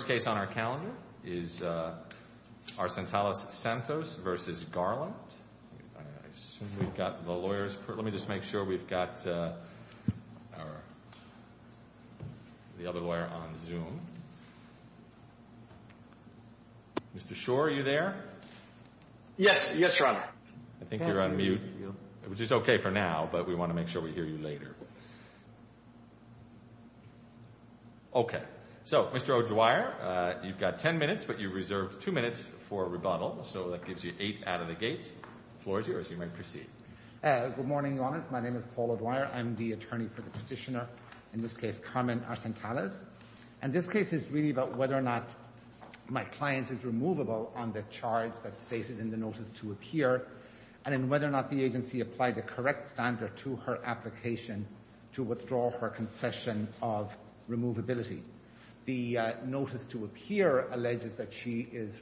First case on our calendar is Arcentales-Santos v. Garland, I assume we've got the lawyers let me just make sure we've got the other lawyer on Zoom. Mr. Shore are you there? Yes, yes your honor. I think you're on mute which is okay for now but we want to make sure we hear you later. Okay, so Mr. O'Dwyer you've got 10 minutes but you've reserved 2 minutes for a rebuttal so that gives you 8 out of the gate, the floor is yours, you may proceed. Good morning your honor, my name is Paul O'Dwyer, I'm the attorney for the petitioner in this case Carmen Arcentales and this case is really about whether or not my client is removable on the charge that's stated in the notice to appear and then whether or not the agency applied the correct standard to her application to withdraw her concession of removability. The notice to appear alleges that she is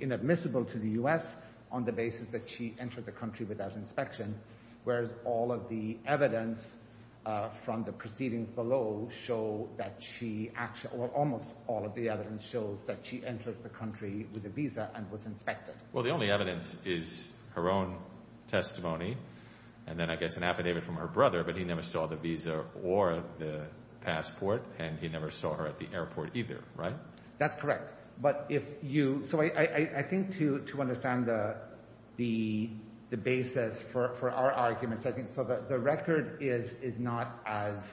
inadmissible to the U.S. on the basis that she entered the country without inspection whereas all of the evidence from the proceedings below show that she actually or almost all of the evidence shows that she entered the country with a visa and was inspected. Well the only evidence is her own testimony and then I guess an affidavit from her brother but he never saw the visa or the passport and he never saw her at the airport either, right? That's correct but if you, so I think to understand the basis for our arguments I think so that the record is not as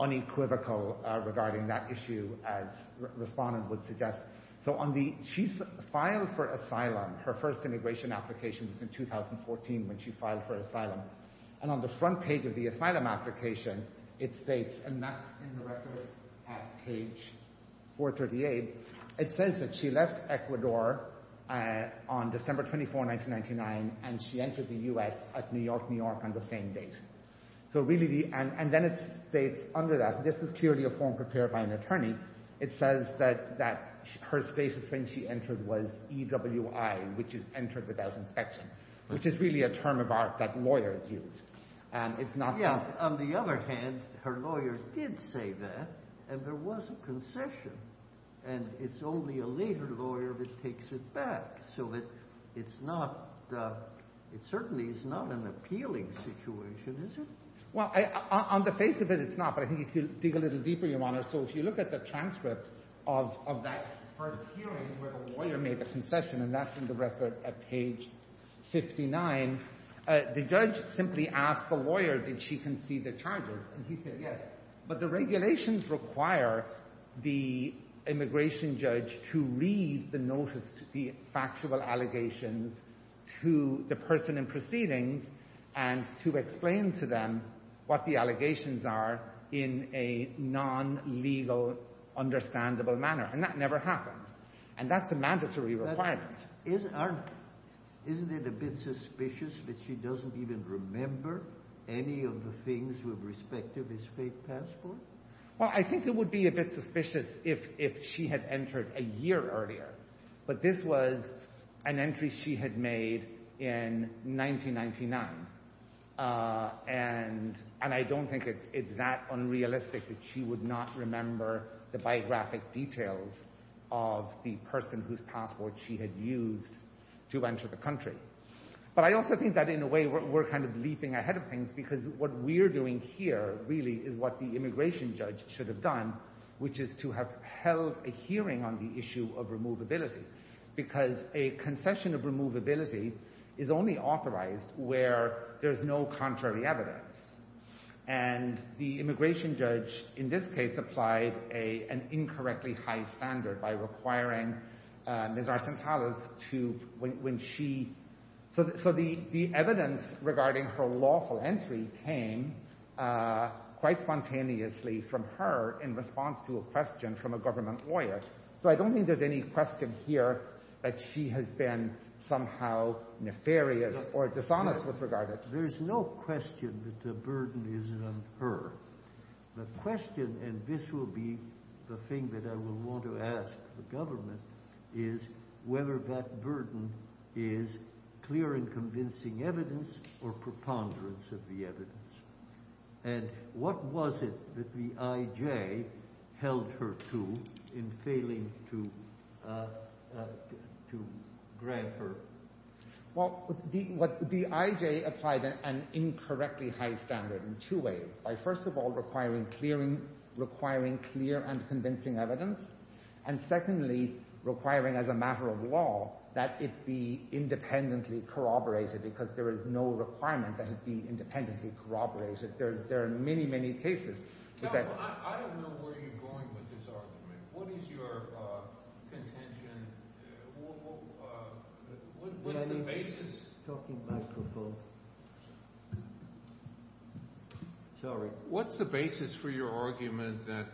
unequivocal regarding that issue as respondent would suggest. So on the, she's filed for asylum, her first immigration application was in 2014 when she filed for asylum and on the front page of the asylum application it states and that's in the record at page 438, it says that she left Ecuador on December 24, 1999 and she entered the U.S. at New York, New York on the same date. So really the, and then it states under that, this is clearly a form prepared by an attorney, it says that her status when she entered was EWI, which is entered without inspection, which is really a term of art that lawyers use and it's not something that. Yeah, on the other hand, her lawyer did say that and there was a concession and it's only a later lawyer that takes it back so it's not, it certainly is not an appealing situation, is it? Well, on the face of it, it's not but I think if you dig a little deeper, Your Honor, so if you look at the transcript of that first hearing where the lawyer made the concession and that's in the record at page 59, the judge simply asked the lawyer did she concede the charges and he said yes but the regulations require the immigration judge to read the notice, the factual allegations to the person in proceedings and to explain to them what the allegations are in a non-legal understandable manner and that never happened and that's a mandatory requirement. Isn't it a bit suspicious that she doesn't even remember any of the things with respect to this fake passport? Well, I think it would be a bit suspicious if she had entered a year earlier but this was an entry she had made in 1999 and I don't think it's that unrealistic that she would not remember the biographic details of the person whose passport she had used to enter the country but I also think that in a way we're kind of leaping ahead of things because what we're doing here really is what the immigration judge should have done which is to have held a hearing on the issue of removability because a concession of removability is only authorized where there's no contrary evidence and the immigration judge in this case applied an incorrectly high standard by requiring Ms. Arcentales to, when she, so the evidence regarding her lawful entry came quite spontaneously from her in response to a question from a government lawyer. So I don't think there's any question here that she has been somehow nefarious or dishonest with regard to it. There's no question that the burden is on her. The question, and this will be the thing that I will want to ask the government, is whether that burden is clear and convincing evidence or preponderance of the evidence and what was it that the IJ held her to in failing to grant her? Well, the IJ applied an incorrectly high standard in two ways, by first of all requiring clear and convincing evidence and secondly requiring as a matter of law that it be independently corroborated because there is no requirement that it be independently corroborated. There are many, many cases. Counsel, I don't know where you're going with this argument. What is your contention? What's the basis? What's the basis for your argument that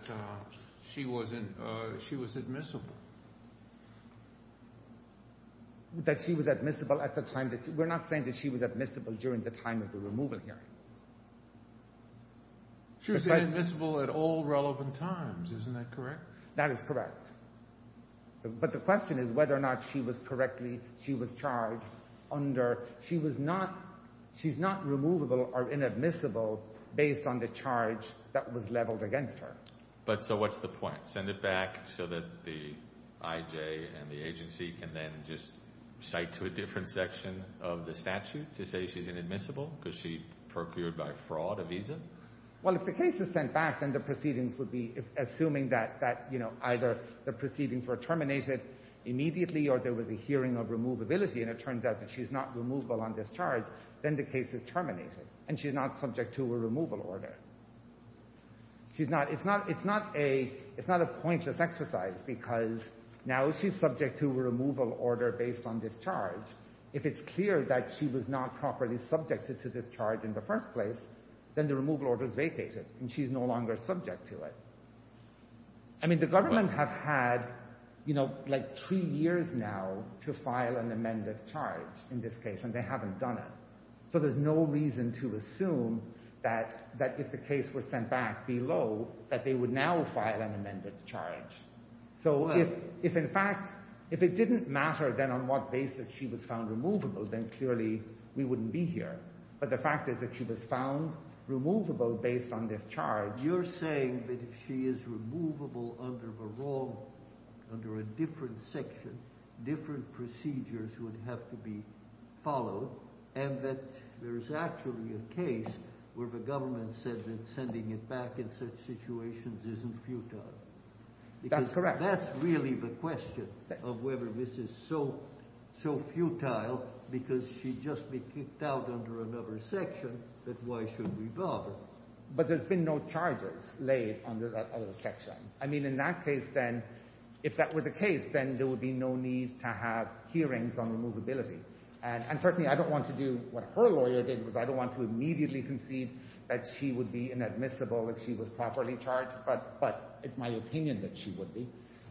she was admissible? That she was admissible at the time. We're not saying that she was admissible during the time of the removal hearing. She was inadmissible at all relevant times, isn't that correct? That is correct. But the question is whether or not she was correctly, she was charged under, she was not, she's not removable or inadmissible based on the charge that was leveled against her. But so what's the point? Send it back so that the IJ and the agency can then just cite to a different section of the statute to say she's inadmissible because she procured by fraud a visa? Well, if the case is sent back, then the proceedings would be assuming that, you know, either the proceedings were terminated immediately or there was a hearing of removability and it turns out that she's not removable on this charge, then the case is terminated and she's not subject to a removal order. She's not, it's not, it's not a, it's not a pointless exercise because now she's subject to a removal order based on this charge. If it's clear that she was not properly subjected to this charge in the first place, then the removal order is vacated and she's no longer subject to it. I mean, the government have had, you know, like three years now to file an amended charge in this case and they haven't done it. So there's no reason to assume that, that if the case were sent back below, that they would now file an amended charge. So if, if in fact, if it didn't matter then on what basis she was found removable, then clearly we wouldn't be here. But the fact is that she was found removable based on this charge. You're saying that if she is removable under the wrong, under a different section, different procedures would have to be followed and that there's actually a case where the government said that sending it back in such situations isn't futile. That's correct. That's really the question of whether this is so, so futile because she'd just be kicked out under another section, but why should we bother? But there's been no charges laid under that other section. I mean, in that case, then, if that were the case, then there would be no need to have hearings on removability. And certainly I don't want to do what her lawyer did, because I don't want to immediately concede that she would be inadmissible if she was properly charged. But it's my opinion that she would be.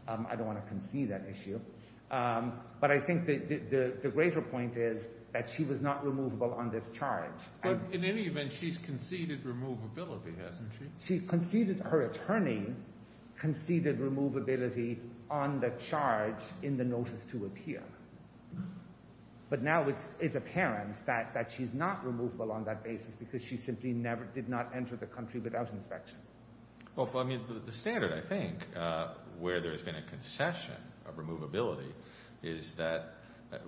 I don't want to concede that issue. But I think the greater point is that she was not removable on this charge. But in any event, she's conceded removability, hasn't she? Her attorney conceded removability on the charge in the notice to appear. But now it's apparent that she's not removable on that basis because she simply did not enter the country without inspection. Well, I mean, the standard, I think, where there's been a concession of removability is that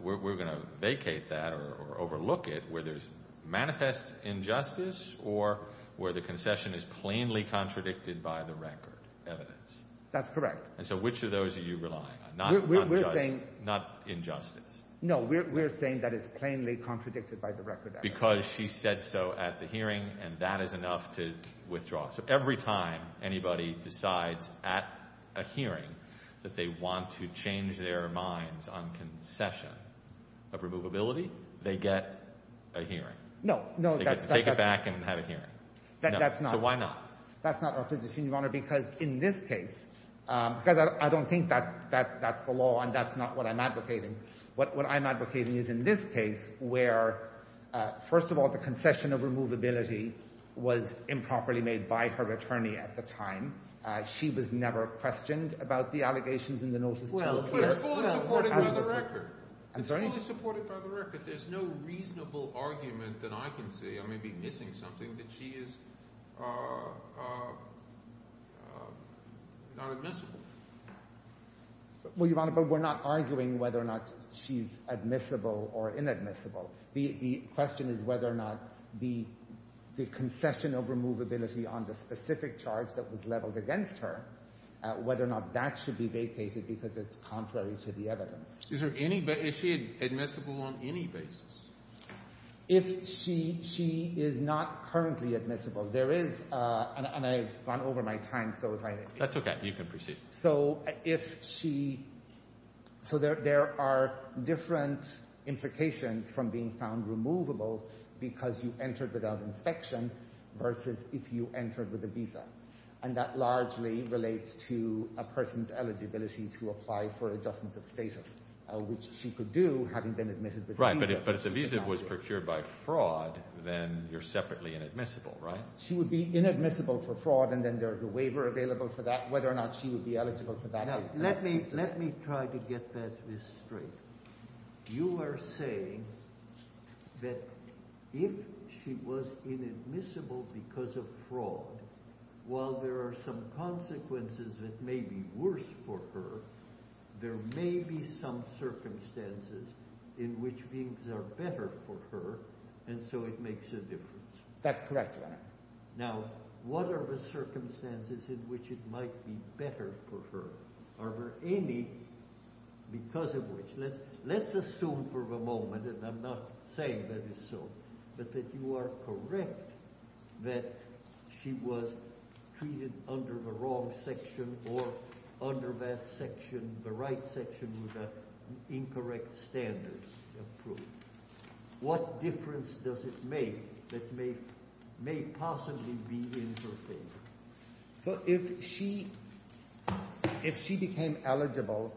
we're going to vacate that or overlook it where there's manifest injustice or where the concession is plainly contradicted by the record evidence. That's correct. And so which of those are you relying on, not injustice? No, we're saying that it's plainly contradicted by the record evidence. Because she said so at the hearing, and that is enough to withdraw. So every time anybody decides at a hearing that they want to change their minds on concession of removability, they get a hearing. No, no. They get to take it back and have a hearing. That's not. So why not? That's not our position, Your Honor, because in this case, because I don't think that's the law and that's not what I'm advocating. What I'm advocating is in this case where, first of all, the concession of removability was improperly made by her attorney at the time, she was never questioned about the allegations in the notice to appear. Well, but it's fully supported by the record. I'm sorry? It's fully supported by the record. There's no reasonable argument that I can see, I may be missing something, that she is not admissible. Well, Your Honor, but we're not arguing whether or not she's admissible or inadmissible. The question is whether or not the concession of removability on the specific charge that was leveled against her, whether or not that should be vacated because it's contrary to the evidence. Is she admissible on any basis? If she is not currently admissible, there is, and I've gone over my time. That's okay. You can proceed. So there are different implications from being found removable because you entered without inspection versus if you entered with a visa, and that largely relates to a person's eligibility to apply for adjustment of status, which she could do having been admitted with a visa. Right, but if the visa was procured by fraud, then you're separately inadmissible, right? She would be inadmissible for fraud, and then there's a waiver available for that, and whether or not she would be eligible for that. Let me try to get this straight. You are saying that if she was inadmissible because of fraud, while there are some consequences that may be worse for her, there may be some circumstances in which things are better for her, That's correct, Your Honor. Now, what are the circumstances in which it might be better for her? Are there any because of which, let's assume for the moment, and I'm not saying that it's so, but that you are correct that she was treated under the wrong section or under that section, the right section with the incorrect standards approved. What difference does it make that may possibly be in her favor? So if she became eligible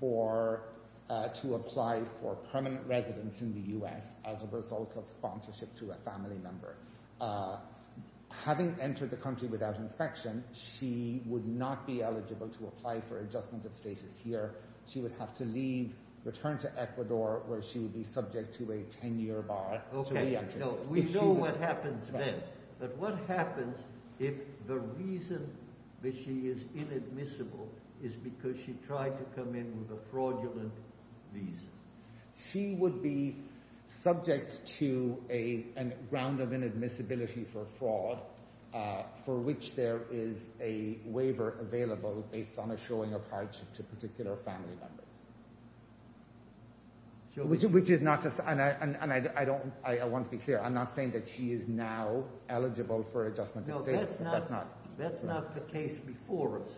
to apply for permanent residence in the U.S. as a result of sponsorship to a family member, having entered the country without inspection, she would not be eligible to apply for adjustment of status here. She would have to leave, return to Ecuador, where she would be subject to a 10-year bar. We know what happens then. But what happens if the reason that she is inadmissible is because she tried to come in with a fraudulent visa? She would be subject to a ground of inadmissibility for fraud for which there is a waiver available based on a showing of hardship to particular family members. Which is not just, and I want to be clear, I'm not saying that she is now eligible for adjustment of status. That's not the case before us.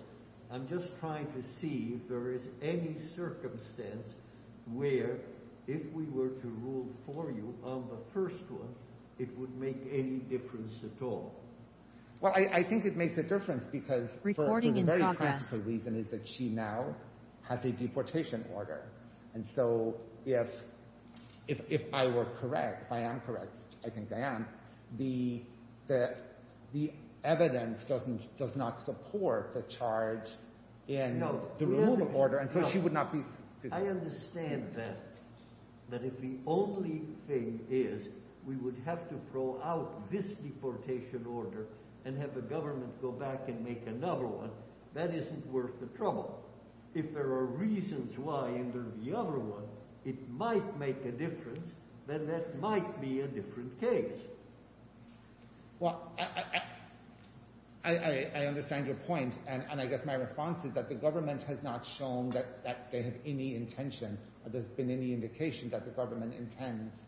I'm just trying to see if there is any circumstance where if we were to rule for you on the first one, it would make any difference at all. Well, I think it makes a difference because the very practical reason is that she now has a deportation order. And so if I were correct, if I am correct, I think I am, the evidence does not support the charge in the removal order. And so she would not be... I understand that. That if the only thing is we would have to throw out this deportation order and have the government go back and make another one, that isn't worth the trouble. If there are reasons why under the other one it might make a difference, then that might be a different case. Well, I understand your point. And I guess my response is that the government has not shown that they have any intention or there's been any indication that the government intends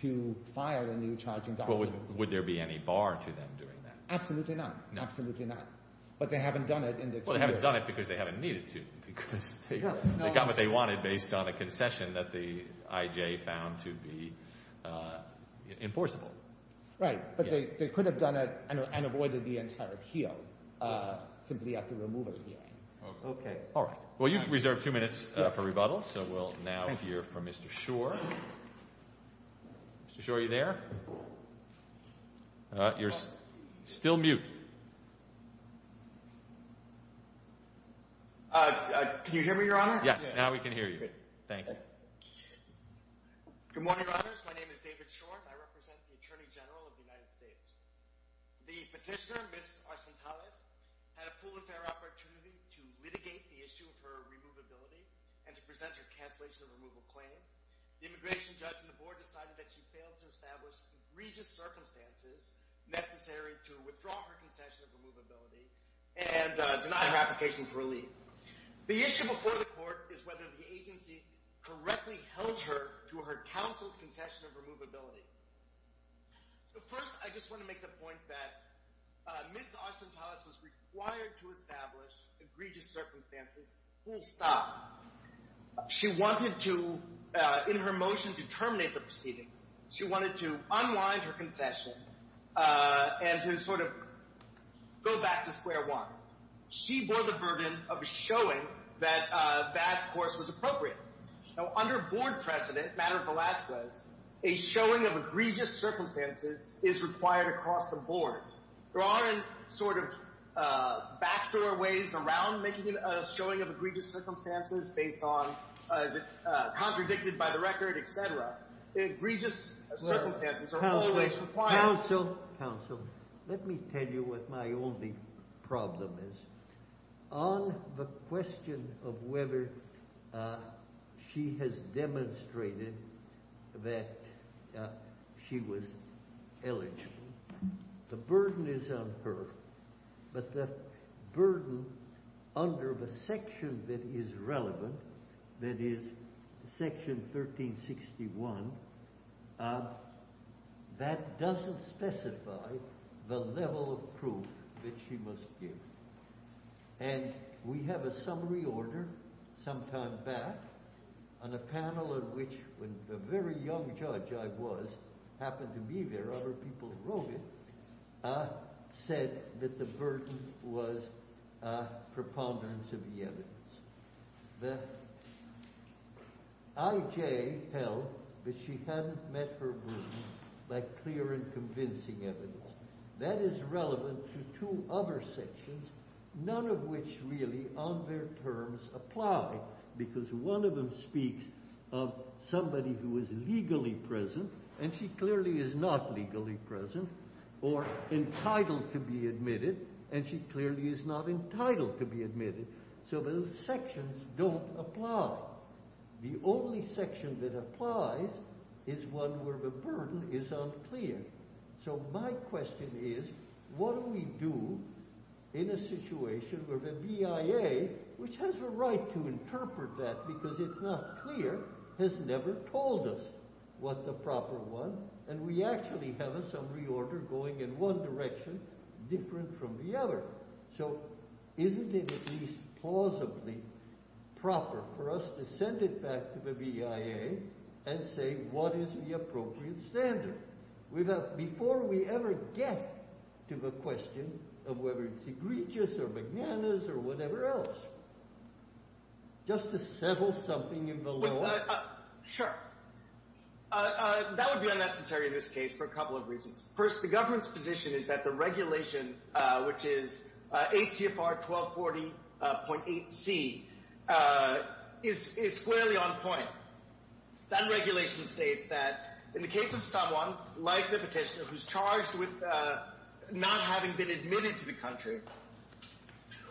to file a new charging document. Would there be any bar to them doing that? Absolutely not. Absolutely not. But they haven't done it. Well, they haven't done it because they haven't needed to. Because they got what they wanted based on a concession that the IJ found to be enforceable. Right. But they could have done it and avoided the entire appeal simply at the removal hearing. Okay. All right. Well, you've reserved two minutes for rebuttal. So we'll now hear from Mr. Schor. Mr. Schor, are you there? You're still mute. Can you hear me, Your Honor? Yes. Now we can hear you. Good. Thank you. Good morning, Your Honors. My name is David Schor. I represent the Attorney General of the United States. The petitioner, Ms. Arcentales, had a full and fair opportunity to litigate the issue of her removability and to present her cancellation of removal claim. The immigration judge and the board decided that she failed to establish egregious circumstances necessary to withdraw her concession of removability and deny her application for a leave. The issue before the court is whether the agency correctly held her to her counsel's concession of removability. So first, I just want to make the point that Ms. Arcentales was required to establish egregious circumstances. Full stop. She wanted to, in her motion to terminate the proceedings, she wanted to unwind her concession and to sort of go back to square one. She bore the burden of showing that that course was appropriate. Now under board precedent, matter of the last place, a showing of egregious circumstances is required across the board. There aren't sort of backdoor ways around making a showing of egregious circumstances based on, contradicted by the record, et cetera. Egregious circumstances are always required. Counsel, let me tell you what my only problem is. On the question of whether she has demonstrated that she was eligible, the burden is on her, but the burden under the section that is relevant, that is section 1361, that doesn't specify the level of proof that she must give. And we have a summary order some time back on a panel in which the very young judge I was, happened to be there, other people wrote it, said that the burden was preponderance of the evidence. The IJ held that she hadn't met her room by clear and convincing evidence. That is relevant to two other sections, none of which really on their terms apply, because one of them speaks of somebody who is legally present, and she clearly is not legally present, or entitled to be admitted, and she clearly is not entitled to be admitted. So those sections don't apply. The only section that applies is one where the burden is unclear. So my question is, what do we do in a situation where the BIA, which has a right to interpret that because it's not clear, has never told us what the proper one, and we actually have a summary order going in one direction, different from the other. So isn't it at least plausibly proper for us to send it back to the BIA and say what is the appropriate standard? Before we ever get to the question of whether it's egregious or bananas or whatever else, just to settle something in the law? Sure. That would be unnecessary in this case for a couple of reasons. First, the government's position is that the regulation, which is 8 CFR 1240.8C, is squarely on point. That regulation states that in the case of someone, like the petitioner, who's charged with not having been admitted to the country,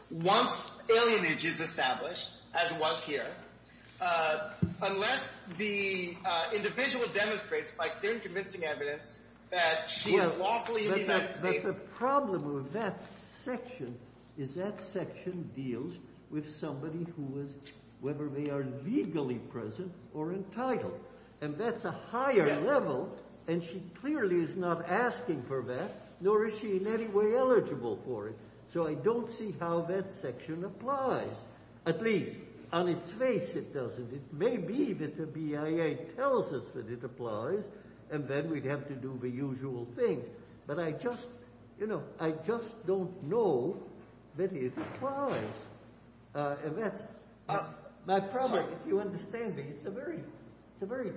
once alienage is established, as was here, unless the individual demonstrates, by their convincing evidence, that she is lawfully in the United States... But the problem with that section is that section deals with somebody who is, whether they are legally present or entitled. And that's a higher level, and she clearly is not asking for that, nor is she in any way eligible for it. So I don't see how that section applies. At least, on its face, it doesn't. It may be that the BIA tells us that it applies, and then we'd have to do the usual thing. But I just don't know that it applies. My problem, if you understand me, it's a very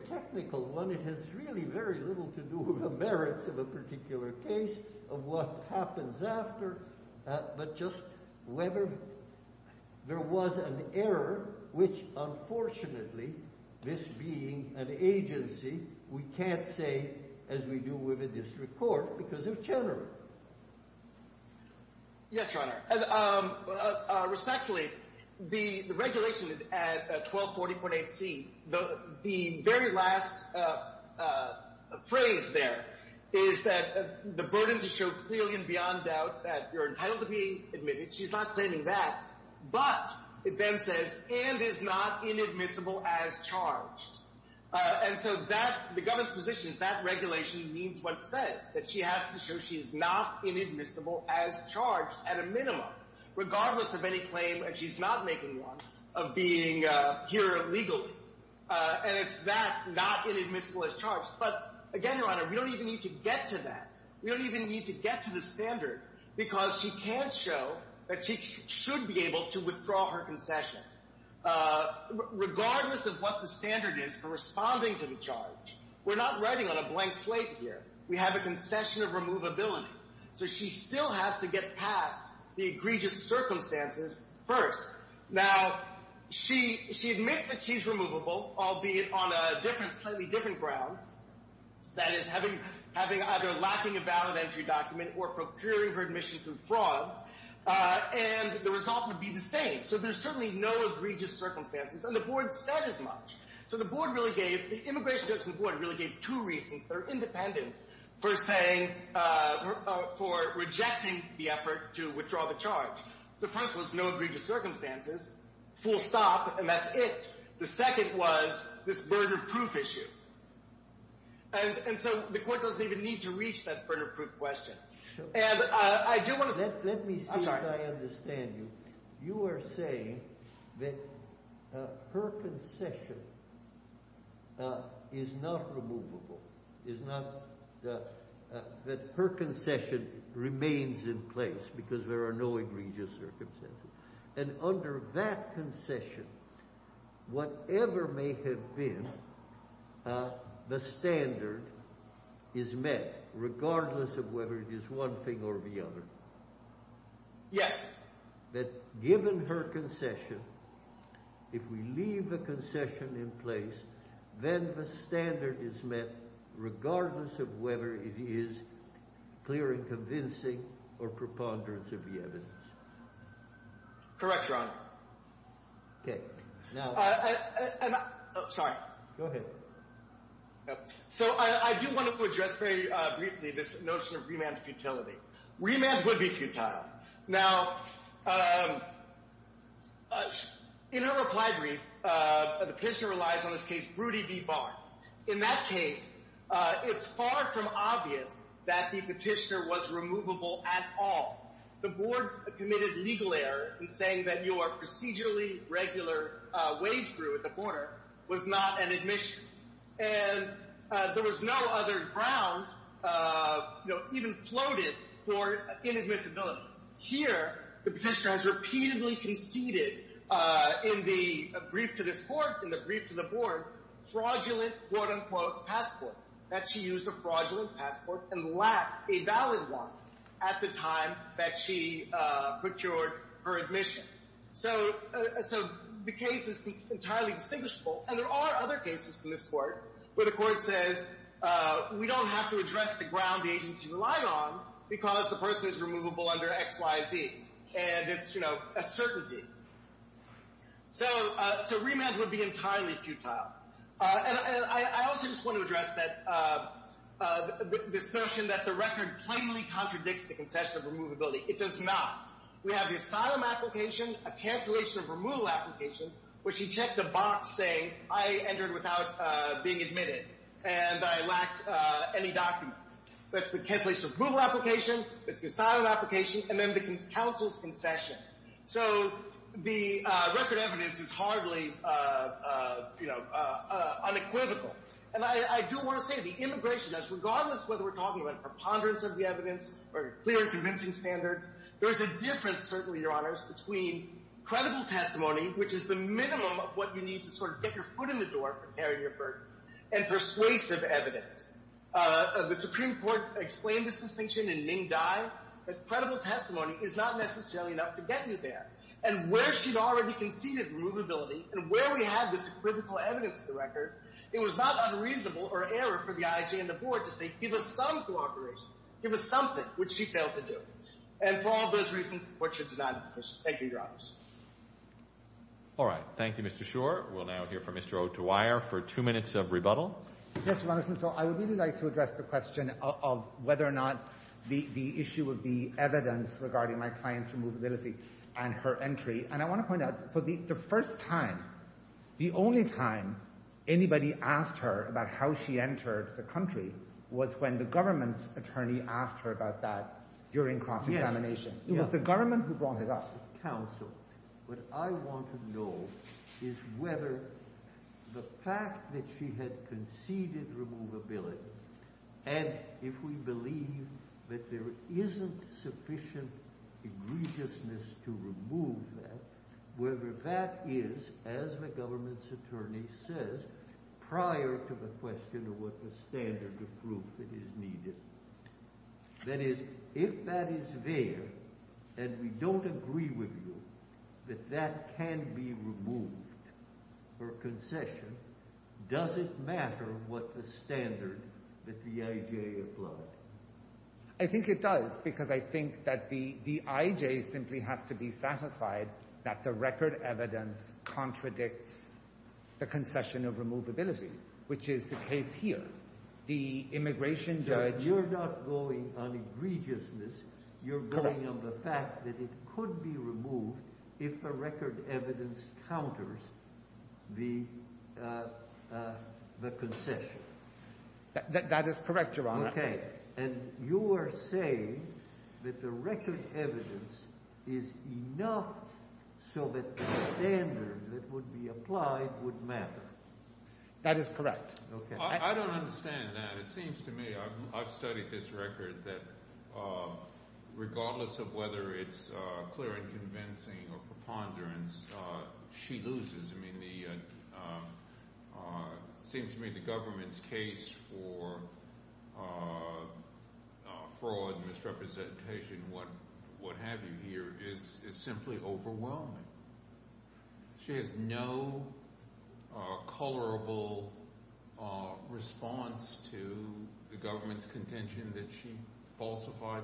technical one. It has really very little to do with the merits of a particular case, of what happens after. But just whether there was an error, which, unfortunately, this being an agency, we can't say, as we do with a district court, because they're general. Yes, Your Honor. Respectfully, the regulation at 1240.8c, the very last phrase there, is that the burden to show clearly and beyond doubt that you're entitled to be admitted. She's not claiming that, but it then says, and is not inadmissible as charged. And so the government's position is that regulation means what it says, that she has to show she is not inadmissible as charged, at a minimum, regardless of any claim, and she's not making one, of being here illegally. And it's that, not inadmissible as charged. But again, Your Honor, we don't even need to get to that. Because she can't show that she should be able to withdraw her concession, regardless of what the standard is for responding to the charge. We're not writing on a blank slate here. We have a concession of removability. So she still has to get past the egregious circumstances first. Now, she admits that she's removable, albeit on a slightly different ground. That is, having either lacking a valid entry document or procuring her admission through fraud. And the result would be the same. So there's certainly no egregious circumstances. And the board said as much. So the immigration judge and the board really gave two reasons that are independent for rejecting the effort to withdraw the charge. The first was no egregious circumstances, full stop, and that's it. The second was this burden of proof issue. And so the court doesn't even need to reach that burden of proof question. And I do want to say... Let me see if I understand you. You are saying that her concession is not removable, is not... that her concession remains in place because there are no egregious circumstances. And under that concession, whatever may have been, the standard is met regardless of whether it is one thing or the other. Yes. That given her concession, if we leave the concession in place, then the standard is met regardless of whether it is clear and convincing or preponderance of the evidence. Correct, Your Honor. Okay. Now... Sorry. Go ahead. So I do want to address very briefly this notion of remand futility. Remand would be futile. Now, in her reply brief, the petitioner relies on this case, Broody v. Barn. In that case, it's far from obvious that the petitioner was removable at all. The board committed legal error in saying that your procedurally regular wade through at the corner was not an admission. And there was no other ground even floated for inadmissibility. Here, the petitioner has repeatedly conceded in the brief to this court, in the brief to the board, fraudulent, quote-unquote, passport, that she used a fraudulent passport and lacked a valid one at the time that she procured her admission. So the case is entirely distinguishable. And there are other cases from this court where the court says, we don't have to address the ground the agency relied on because the person is removable under X, Y, Z. And it's, you know, a certainty. So remand would be entirely futile. And I also just want to address this notion that the record plainly contradicts the concession of removability. It does not. We have the asylum application, a cancellation of removal application, where she checked a box saying, I entered without being admitted and I lacked any documents. That's the cancellation of removal application, that's the asylum application, and then the counsel's concession. So the record evidence is hardly, you know, unequivocal. And I do want to say the immigration judge, regardless of whether we're talking about a preponderance of the evidence or a clear and convincing standard, there's a difference, certainly, Your Honors, between credible testimony, which is the minimum of what you need to sort of get your foot in the door from carrying your burden, and persuasive evidence. The Supreme Court explained this distinction in Ming Dai, that credible testimony is not necessarily enough to get you there. And where she'd already conceded removability, and where we had this critical evidence of the record, it was not unreasonable or error for the IJ and the board to say, give us some cooperation, give us something, which she failed to do. And for all those reasons, what she did not do. Thank you, Your Honors. All right. Thank you, Mr. Schor. We'll now hear from Mr. O'Dwyer for two minutes of rebuttal. Yes, Your Honor, so I would really like to address the question of whether or not the issue of the evidence regarding my client's removability and her entry. And I want to point out, so the first time, the only time anybody asked her about how she entered the country was when the government's attorney asked her about that during cross-examination. It was the government who brought it up. Counsel, what I want to know is whether the fact that she had conceded removability, and if we believe that there isn't sufficient egregiousness to remove that, whether that is, as the government's attorney says, prior to the question of what the standard of proof that is needed. That is, if that is there, and we don't agree with you that that can be removed for concession, does it matter what the standard that the IJ applied? I think it does, because I think that the IJ simply has to be satisfied that the record evidence contradicts the concession of removability, which is the case here. The immigration judge You're not going on egregiousness. You're going on the fact that it could be removed if the record evidence counters the concession. That is correct, Your Honor. And you are saying that the record evidence is enough so that the standard that would be applied would matter. That is correct. I don't understand that. It seems to me I've studied this record that regardless of whether it's clear and convincing or preponderance, she loses. It seems to me the government's case for fraud, misrepresentation, what have you here is simply overwhelming. She has no colorable response to the government's contention that she falsified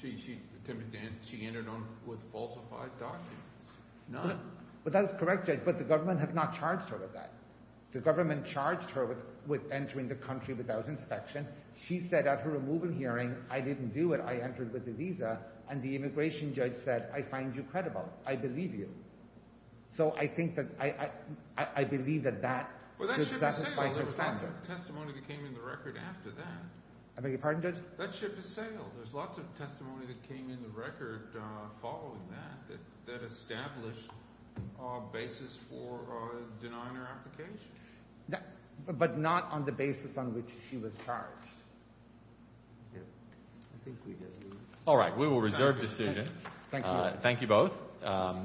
she entered on with falsified documents. None. But that is correct, Judge. But the government has not charged her with that. The government charged her with entering the country without inspection. She said at her removal hearing, I didn't do it. I entered with a visa. And the immigration judge said, I find you credible. I believe you. So I think that I believe that that would satisfy her stance. There's lots of testimony that came in the record after that. I beg your pardon, Judge? That ship has sailed. There's lots of testimony that came in the record following that that established a basis for denying her application. But not on the basis on which she was charged. All right. We will reserve decision. Thank you both.